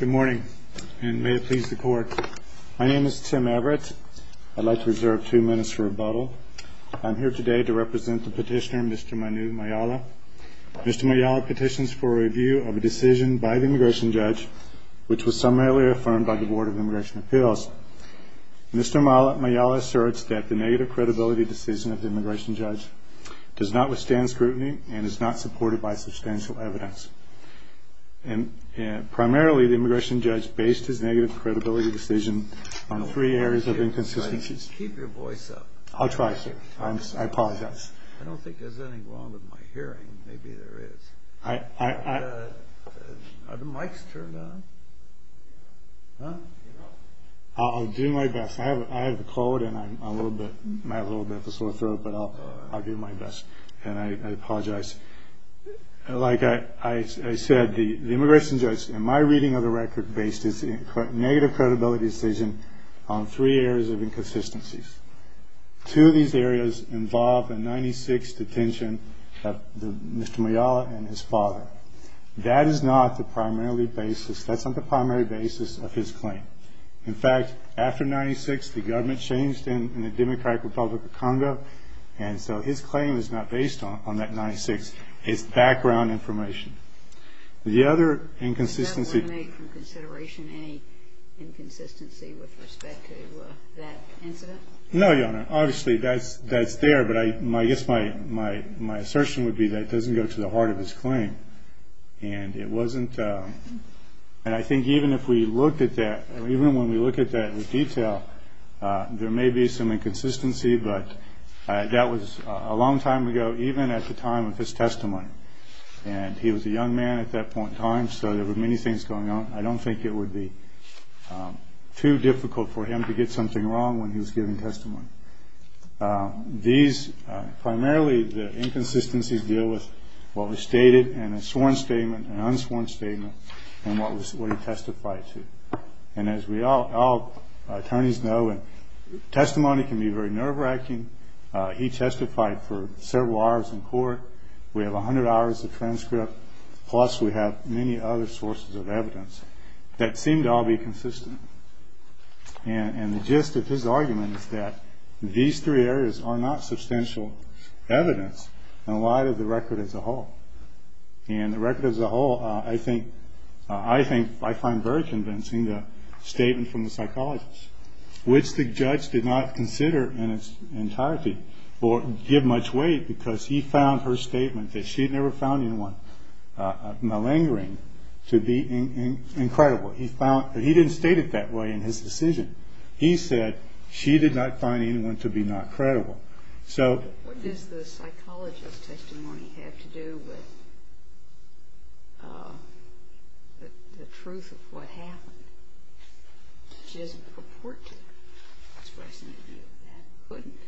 Good morning, and may it please the court. My name is Tim Everett. I'd like to reserve two minutes for rebuttal. I'm here today to represent the petitioner, Mr. Manu Mayala. Mr. Mayala petitions for a review of a decision by the immigration judge, which was summarily affirmed by the Board of Immigration Appeals. Mr. Mayala asserts that the negative credibility decision of the immigration judge does not withstand scrutiny and is not supported by substantial evidence. Primarily, the immigration judge based his negative credibility decision on three areas of inconsistencies. I'll try, sir. I apologize. I don't think there's anything wrong with my hearing. Maybe there is. Are the mics turned on? I'll do my best. I have a cold, and I might have a little bit of a sore throat, but I'll do my best. And I apologize. Like I said, the immigration judge, in my reading of the record, based his negative credibility decision on three areas of inconsistencies. Two of these areas involve a 1996 detention of Mr. Mayala and his father. That is not the primary basis. That's not the primary basis of his claim. In fact, after 1996, the government changed in the Democratic Republic of Congo, and so his claim is not based on that 1996. It's background information. The other inconsistency... Does that eliminate from consideration any inconsistency with respect to that incident? No, Your Honor. Obviously, that's there, but I guess my assertion would be that it doesn't go to the heart of his claim. And it wasn't... And I think even if we looked at that, even when we look at that in detail, there may be some inconsistency, but that was a long time ago, even at the time of his testimony. And he was a young man at that point in time, so there were many things going on. I don't think it would be too difficult for him to get something wrong when he was giving testimony. These... Primarily, the inconsistencies deal with what was stated in a sworn statement, an unsworn statement, and what he testified to. And as all attorneys know, testimony can be very nerve-wracking. He testified for several hours in court. We have 100 hours of transcript, plus we have many other sources of evidence that seem to all be consistent. And the gist of his argument is that these three areas are not substantial evidence in light of the record as a whole. And the record as a whole, I think, I find very convincing, the statement from the psychologist, which the judge did not consider in its entirety or give much weight, because he found her statement that she had never found anyone malingering to be incredible. He found... He didn't state it that way in his decision. He said she did not find anyone to be not credible. So... What does the psychologist's testimony have to do with the truth of what happened? She doesn't purport to express any view of that, couldn't.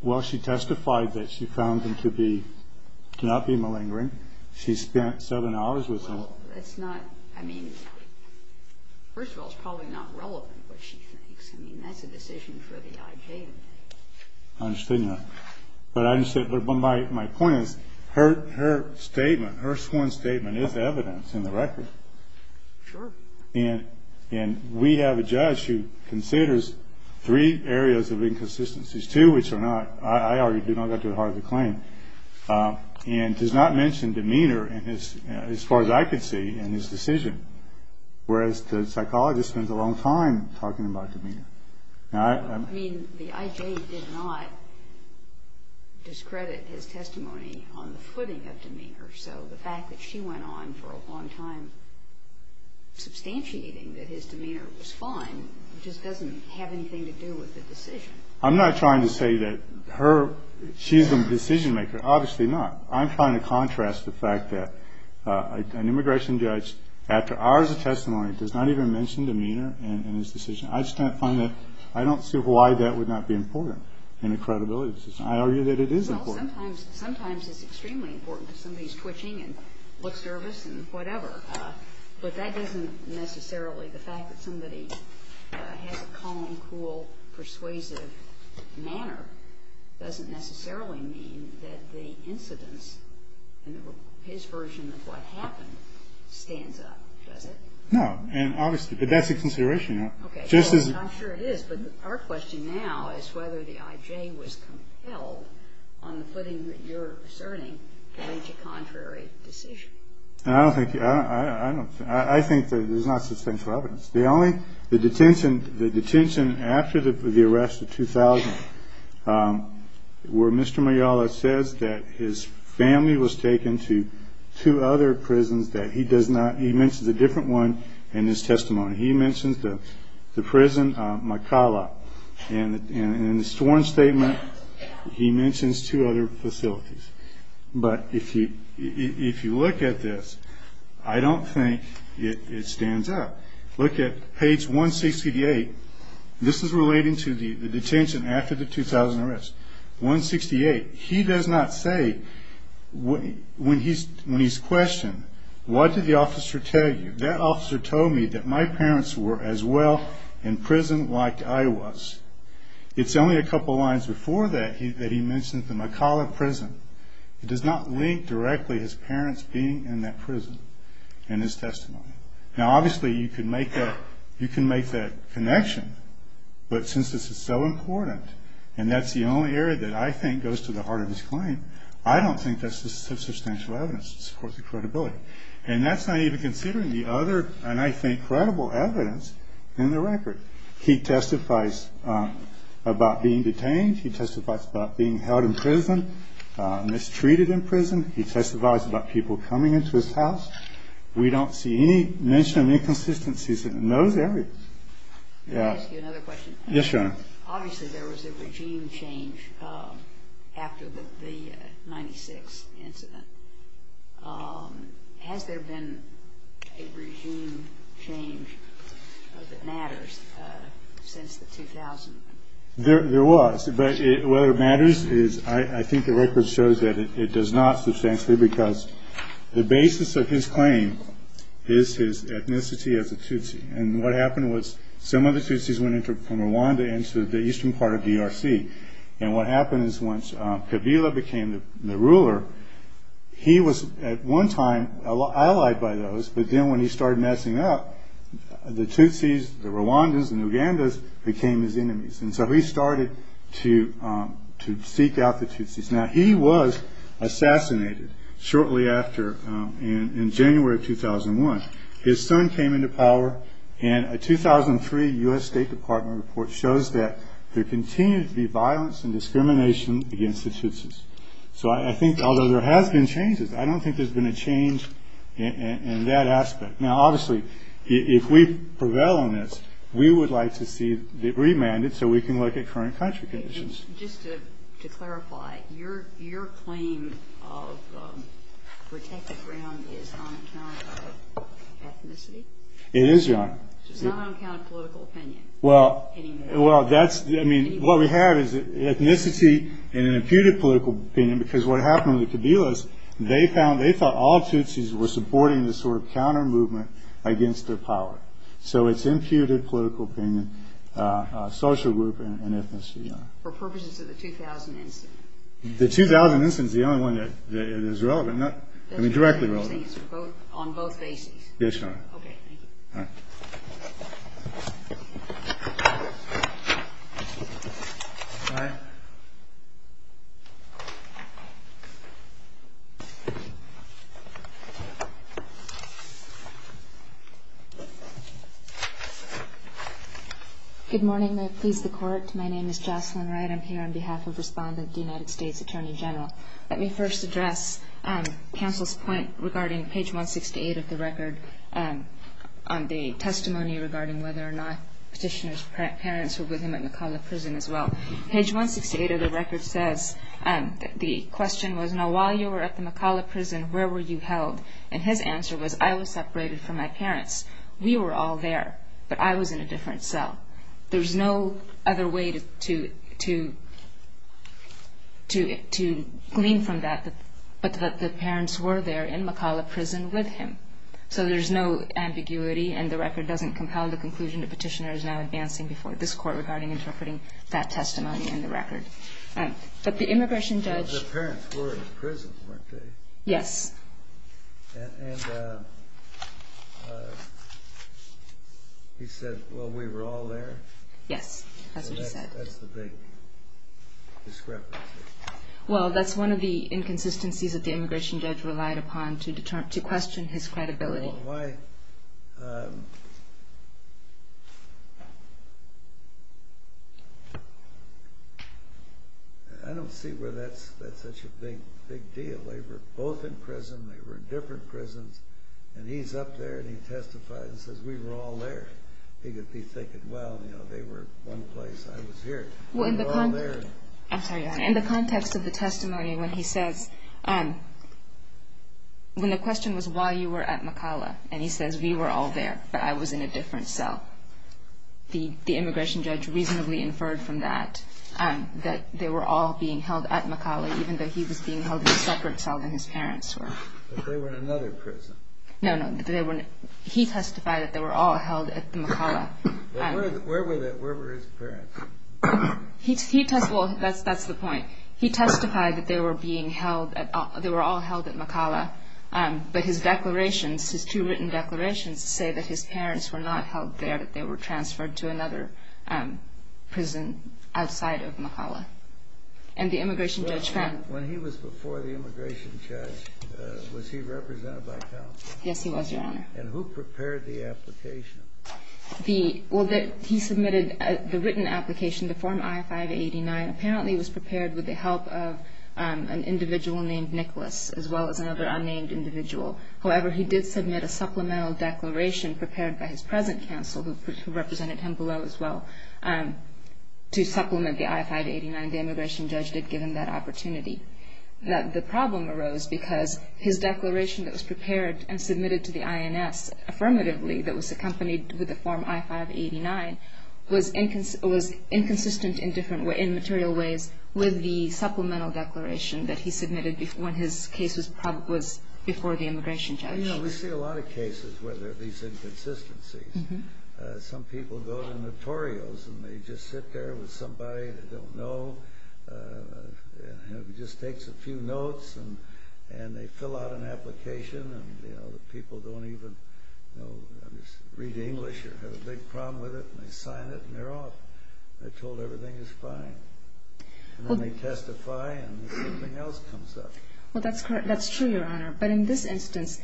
Well, she testified that she found them to be... to not be malingering. She spent seven hours with them. Well, that's not... I mean, first of all, it's probably not relevant what she thinks. I mean, that's a decision for the I.J. to make. I understand that. But I understand... But my point is, her statement, her sworn statement is evidence in the record. Sure. And we have a judge who considers three areas of inconsistencies, two which are not... I already did not get to the heart of the claim. And does not mention demeanor, as far as I could see, in his decision. Whereas the psychologist spends a long time talking about demeanor. I mean, the I.J. did not discredit his testimony on the footing of demeanor. So the fact that she went on for a long time substantiating that his demeanor was fine just doesn't have anything to do with the decision. I'm not trying to say that her... She's a decision maker. Obviously not. I'm trying to contrast the fact that an immigration judge, after hours of testimony, does not even mention demeanor in his decision. I just can't find that... I don't see why that would not be important in a credibility decision. I argue that it is important. Well, sometimes it's extremely important because somebody's twitching and looks nervous and whatever. But that doesn't necessarily... The fact that somebody has a calm, cool, persuasive manner doesn't necessarily mean that the incidence in his version of what happened stands up, does it? No. And obviously, that's a consideration. Okay. I'm sure it is. But our question now is whether the I.J. was compelled on the footing that you're asserting to reach a contrary decision. I don't think... I don't... I think that there's not substantial evidence. The only... The detention... The detention after the arrest of 2000 where Mr. Mayala says that his family was taken to two other prisons that he does not... He mentions a different one in his testimony. He mentions the prison Makala. And in the sworn statement, he mentions two other facilities. But if you look at this, I don't think it stands up. Look at page 168. This is relating to the detention after the 2000 arrest. 168. He does not say when he's questioned, what did the officer tell you? That officer told me that my parents were as well in prison like I was. It's only a couple lines before that that he mentions the Makala prison. It does not link directly his parents being in that prison in his testimony. Now, obviously, you can make that connection, but since this is so important and that's the only area that I think goes to the heart of his claim, I don't think that's the substantial evidence to support the credibility. And that's not even considering the other, and I think, credible evidence in the record. He testifies about being detained. He testifies about being held in prison, mistreated in prison. He testifies about people coming into his house. We don't see any mention of inconsistencies in those areas. Can I ask you another question? Yes, Your Honor. Obviously, there was a regime change after the 1996 incident. Has there been a regime change that matters since the 2000? There was, but whether it matters is I think the record shows that it does not substantially because the basis of his claim is his ethnicity as a Tutsi. And what happened was some of the Tutsis went from Rwanda into the eastern part of the ERC. And what happened is once Kabila became the ruler, he was at one time allied by those, but then when he started messing up, the Tutsis, the Rwandans, the Nugandas became his enemies. And so he started to seek out the Tutsis. Now, he was assassinated shortly after in January of 2001. His son came into power, and a 2003 U.S. State Department report shows that there continues to be violence and discrimination against the Tutsis. So I think although there has been changes, I don't think there's been a change in that aspect. Now, obviously, if we prevail on this, we would like to see it remanded so we can look at current country conditions. Just to clarify, your claim of protected ground is not on account of ethnicity? It is, Your Honor. It's not on account of political opinion anymore? Well, that's, I mean, what we have is ethnicity and an imputed political opinion because what happened with the Kabilas, they found, they thought all Tutsis were supporting this sort of counter-movement against their power. So it's imputed political opinion, social group, and ethnicity, Your Honor. For purposes of the 2000 instance? The 2000 instance is the only one that is relevant. I mean, directly relevant. On both bases? Yes, Your Honor. Okay, thank you. All right. All right. Good morning. May it please the Court. My name is Jocelyn Wright. I'm here on behalf of Respondent, United States Attorney General. Let me first address counsel's point regarding page 168 of the record on the testimony regarding whether or not Petitioner's parents were with him at Makala Prison as well. Page 168 of the record says that the question was, now while you were at the Makala Prison, where were you held? And his answer was, I was separated from my parents. We were all there, but I was in a different cell. There was no other way to glean from that, but that the parents were there in Makala Prison with him. So there's no ambiguity, and the record doesn't compel the conclusion that Petitioner is now advancing before this Court regarding interpreting that testimony in the record. But the immigration judge… But the parents were in prison, weren't they? Yes. And he said, well, we were all there? Yes, that's what he said. That's the big discrepancy. Well, that's one of the inconsistencies that the immigration judge relied upon to question his credibility. I don't see where that's such a big deal. They were both in prison, they were in different prisons, and he's up there and he testifies and says, we were all there. He could be thinking, well, they were in one place, I was here. We were all there. In the context of the testimony, when he says, when the question was why you were at Makala, and he says, we were all there, but I was in a different cell, the immigration judge reasonably inferred from that, that they were all being held at Makala, even though he was being held in a separate cell than his parents were. But they were in another prison. No, no, he testified that they were all held at Makala. Where were his parents? Well, that's the point. He testified that they were all held at Makala, but his declarations, his two written declarations, say that his parents were not held there, that they were transferred to another prison outside of Makala. And the immigration judge found it. When he was before the immigration judge, was he represented by counsel? Yes, he was, Your Honor. And who prepared the application? Well, he submitted the written application to form I-589. Apparently, it was prepared with the help of an individual named Nicholas, as well as another unnamed individual. However, he did submit a supplemental declaration prepared by his present counsel, who represented him below as well, to supplement the I-589. The immigration judge did give him that opportunity. The problem arose because his declaration that was prepared and submitted to the INS affirmatively, that was accompanied with the form I-589, was inconsistent in material ways with the supplemental declaration that he submitted when his case was before the immigration judge. You know, we see a lot of cases where there are these inconsistencies. Some people go to notorials, and they just sit there with somebody they don't know, just takes a few notes, and they fill out an application, and the people don't even read English or have a big problem with it, and they sign it, and they're off. They're told everything is fine. And then they testify, and something else comes up. Well, that's true, Your Honor. But in this instance,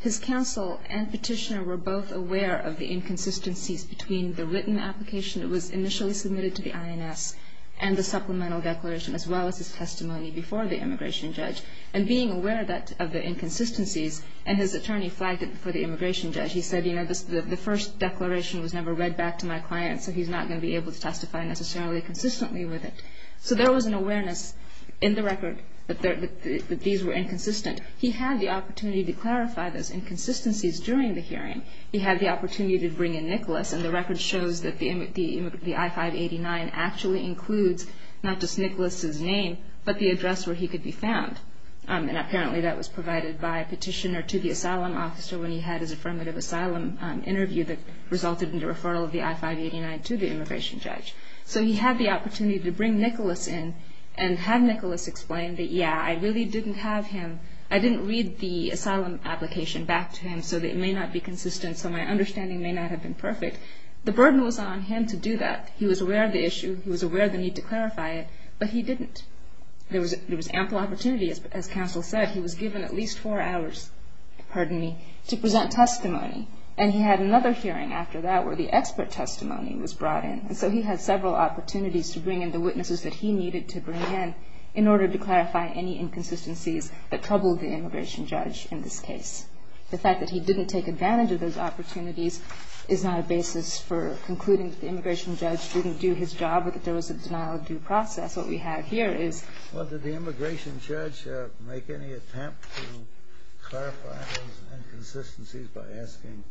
his counsel and petitioner were both aware of the inconsistencies between the written application that was initially submitted to the INS and the supplemental declaration, as well as his testimony before the immigration judge. And being aware of the inconsistencies, and his attorney flagged it for the immigration judge. He said, you know, the first declaration was never read back to my client, so he's not going to be able to testify necessarily consistently with it. So there was an awareness in the record that these were inconsistent. He had the opportunity to clarify those inconsistencies during the hearing. He had the opportunity to bring in Nicholas, and the record shows that the I-589 actually includes not just Nicholas' name, but the address where he could be found. And apparently that was provided by a petitioner to the asylum officer when he had his affirmative asylum interview that resulted in the referral of the I-589 to the immigration judge. So he had the opportunity to bring Nicholas in and have Nicholas explain that, yeah, I really didn't have him, I didn't read the asylum application back to him, so it may not be consistent, so my understanding may not have been perfect. The burden was on him to do that. He was aware of the issue, he was aware of the need to clarify it, but he didn't. There was ample opportunity, as counsel said. He was given at least four hours, pardon me, to present testimony. And he had another hearing after that where the expert testimony was brought in. And so he had several opportunities to bring in the witnesses that he needed to bring in in order to clarify any inconsistencies that troubled the immigration judge in this case. The fact that he didn't take advantage of those opportunities is not a basis for concluding that the immigration judge didn't do his job or that there was a denial-of-due process. What we have here is... Well, did the immigration judge make any attempt to clarify those inconsistencies by asking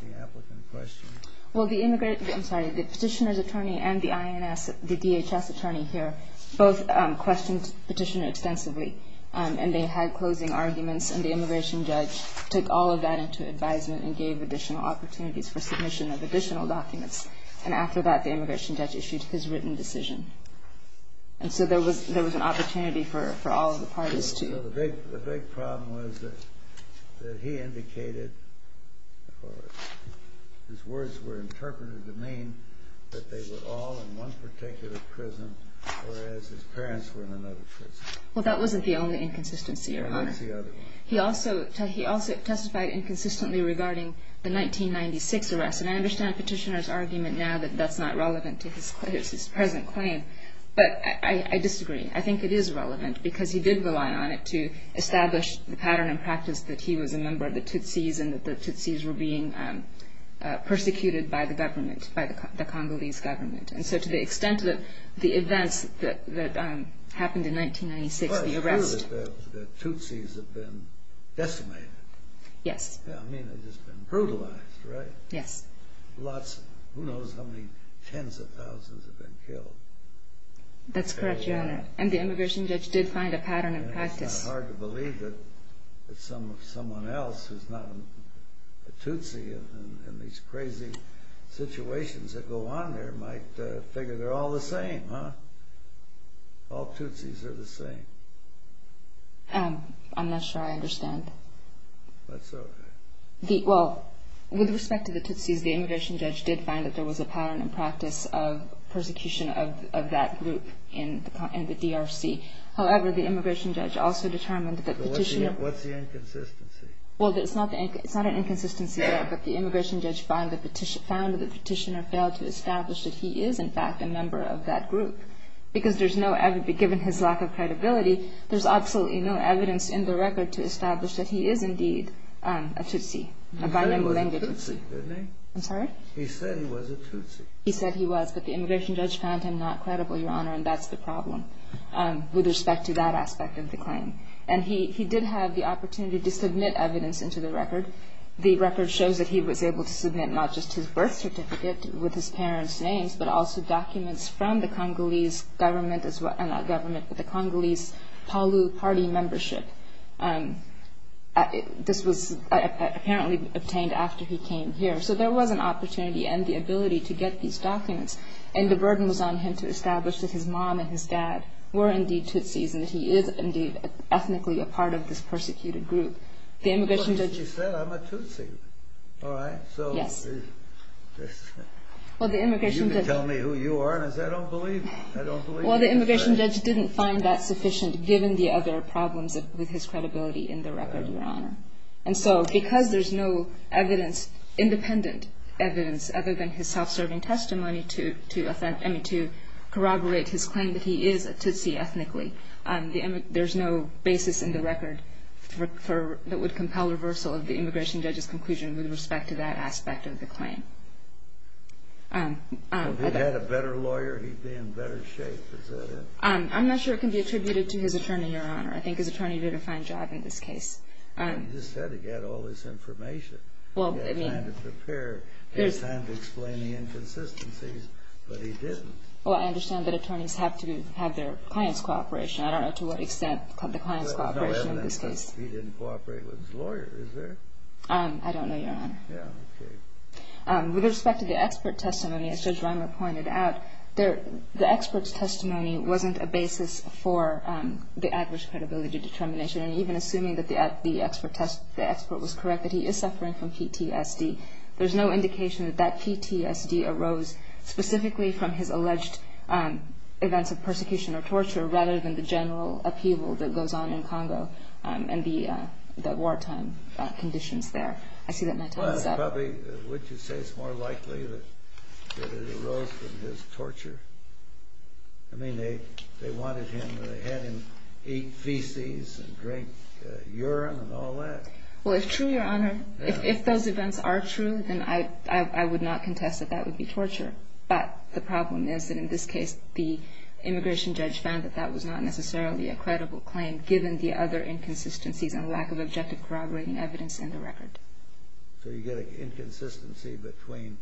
the applicant questions? Well, the immigrant, I'm sorry, the petitioner's attorney and the INS, the DHS attorney here, both questioned the petitioner extensively. And they had closing arguments, and the immigration judge took all of that into advisement and gave additional opportunities for submission of additional documents. And after that, the immigration judge issued his written decision. And so there was an opportunity for all of the parties to... The big problem was that he indicated, or his words were interpreted to mean that they were all in one particular prison, whereas his parents were in another prison. Well, that wasn't the only inconsistency, Your Honor. He also testified inconsistently regarding the 1996 arrest. And I understand the petitioner's argument now that that's not relevant to his present claim. But I disagree. I think it is relevant because he did rely on it to establish the pattern and practice that he was a member of the Tutsis and that the Tutsis were being persecuted by the government, by the Congolese government. And so to the extent that the events that happened in 1996, the arrest... Well, it's true that the Tutsis have been decimated. Yes. I mean, they've just been brutalized, right? Yes. Lots, who knows how many tens of thousands have been killed. That's correct, Your Honor. And the immigration judge did find a pattern and practice. And it's not hard to believe that someone else who's not a Tutsi in these crazy situations that go on there might figure they're all the same, huh? All Tutsis are the same. I'm not sure I understand. That's okay. Well, with respect to the Tutsis, the immigration judge did find that there was a pattern and practice of persecution of that group in the DRC. However, the immigration judge also determined that the petitioner... What's the inconsistency? Well, it's not an inconsistency there, but the immigration judge found that the petitioner failed to establish that he is, in fact, a member of that group because there's no evidence. Given his lack of credibility, there's absolutely no evidence in the record to establish that he is indeed a Tutsi, a bi-member language. He said he was a Tutsi, didn't he? I'm sorry? He said he was a Tutsi. He said he was, but the immigration judge found him not credible, Your Honor, and that's the problem with respect to that aspect of the claim. And he did have the opportunity to submit evidence into the record. The record shows that he was able to submit not just his birth certificate with his parents' names, but also documents from the Congolese government, not government, but the Congolese Palu Party membership. This was apparently obtained after he came here. So there was an opportunity and the ability to get these documents, and the burden was on him to establish that his mom and his dad were indeed Tutsis and that he is indeed ethnically a part of this persecuted group. The immigration judge... He said, I'm a Tutsi. All right. Yes. You can tell me who you are, and I say, I don't believe you. I don't believe you. Well, the immigration judge didn't find that sufficient, given the other problems with his credibility in the record, Your Honor. And so because there's no evidence, independent evidence, other than his self-serving testimony to corroborate his claim that he is a Tutsi ethnically, there's no basis in the record that would compel reversal of the immigration judge's conclusion with respect to that aspect of the claim. If he'd had a better lawyer, he'd be in better shape, is that it? I'm not sure it can be attributed to his attorney, Your Honor. I think his attorney did a fine job in this case. He just had to get all this information. He had time to prepare. He had time to explain the inconsistencies, but he didn't. Well, I understand that attorneys have to have their clients' cooperation. I don't know to what extent the client's cooperation in this case. There's no evidence that he didn't cooperate with his lawyer, is there? I don't know, Your Honor. Yeah, okay. With respect to the expert testimony, as Judge Reimer pointed out, the expert's testimony wasn't a basis for the adverse credibility determination. And even assuming that the expert was correct, that he is suffering from PTSD, there's no indication that that PTSD arose specifically from his alleged events of persecution or torture rather than the general upheaval that goes on in Congo and the wartime conditions there. I see that my time is up. Probably, would you say it's more likely that it arose from his torture? I mean, they wanted him to have him eat feces and drink urine and all that. Well, it's true, Your Honor. If those events are true, then I would not contest that that would be torture. But the problem is that in this case, the immigration judge found that that was not necessarily a credible claim given the other inconsistencies and lack of objective corroborating evidence in the record. So you get an inconsistency between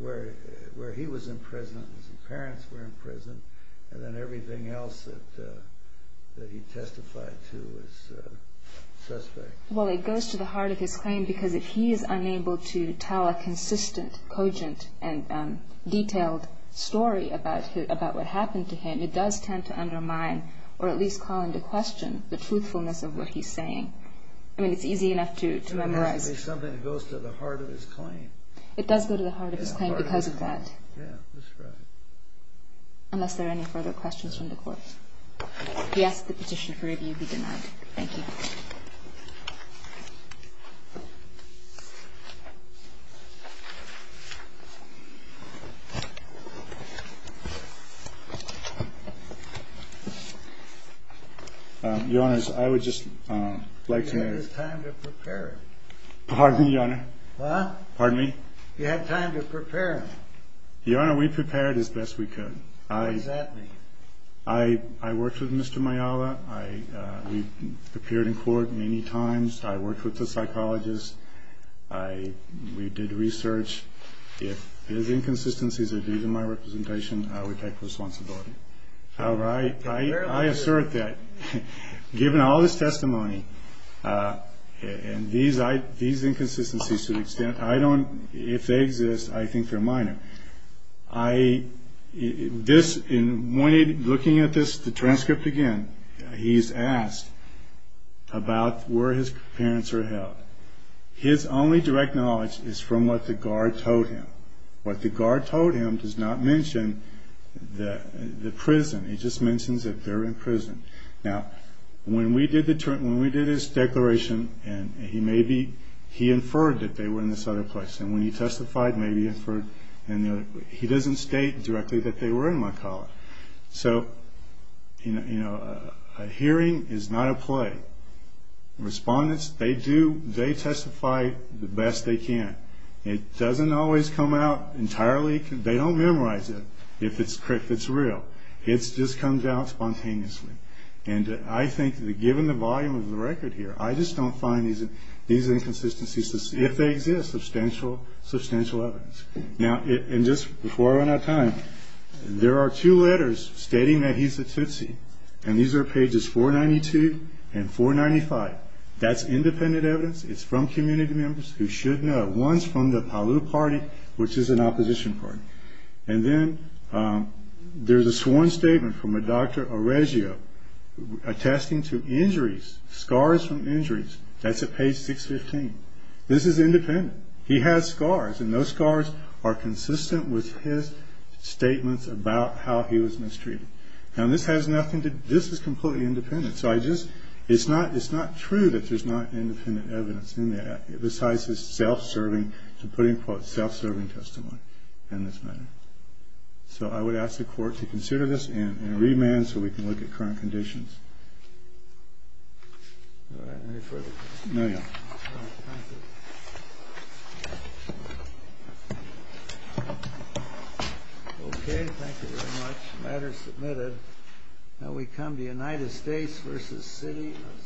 where he was in prison and his parents were in prison and then everything else that he testified to is suspect. Well, it goes to the heart of his claim because if he is unable to tell a consistent, cogent, and detailed story about what happened to him, it does tend to undermine or at least call into question the truthfulness of what he's saying. I mean, it's easy enough to memorize. It has to be something that goes to the heart of his claim. It does go to the heart of his claim because of that. Yeah, that's right. Unless there are any further questions from the Court. Yes, the petition for review be denied. Thank you. Your Honors, I would just like to make a... You had time to prepare it. Pardon me, Your Honor? Huh? Pardon me? You had time to prepare it. Your Honor, we prepared it as best we could. What does that mean? I worked with Mr. Mayala. We've appeared in court many times. I worked with the psychologist. We did research. If there's inconsistencies that are due to my representation, I would take responsibility. However, I assert that given all this testimony and these inconsistencies to the extent I don't... In looking at this transcript again, he's asked about where his parents are held. His only direct knowledge is from what the guard told him. What the guard told him does not mention the prison. It just mentions that they're in prison. Now, when we did his declaration, he inferred that they were in this other place. And when he testified, maybe he inferred... He doesn't state directly that they were in my college. So, you know, a hearing is not a play. Respondents, they testify the best they can. It doesn't always come out entirely... They don't memorize it if it's real. It just comes out spontaneously. And I think that given the volume of the record here, I just don't find these inconsistencies, if they exist, substantial evidence. Now, and just before I run out of time, there are two letters stating that he's a Tootsie. And these are pages 492 and 495. That's independent evidence. It's from community members who should know. One's from the Palu Party, which is an opposition party. And then there's a sworn statement from a Dr. Oregio attesting to injuries, scars from injuries. That's at page 615. This is independent. He has scars, and those scars are consistent with his statements about how he was mistreated. Now, this has nothing to... This is completely independent, so I just... It's not true that there's not independent evidence in there, besides his self-serving, to put it in quotes, self-serving testimony in this matter. So I would ask the Court to consider this and remand so we can look at current conditions. All right. Any further questions? No, Your Honor. All right. Thank you. Okay. Thank you very much. The matter is submitted. Now we come to United States v. City of Santa Monica.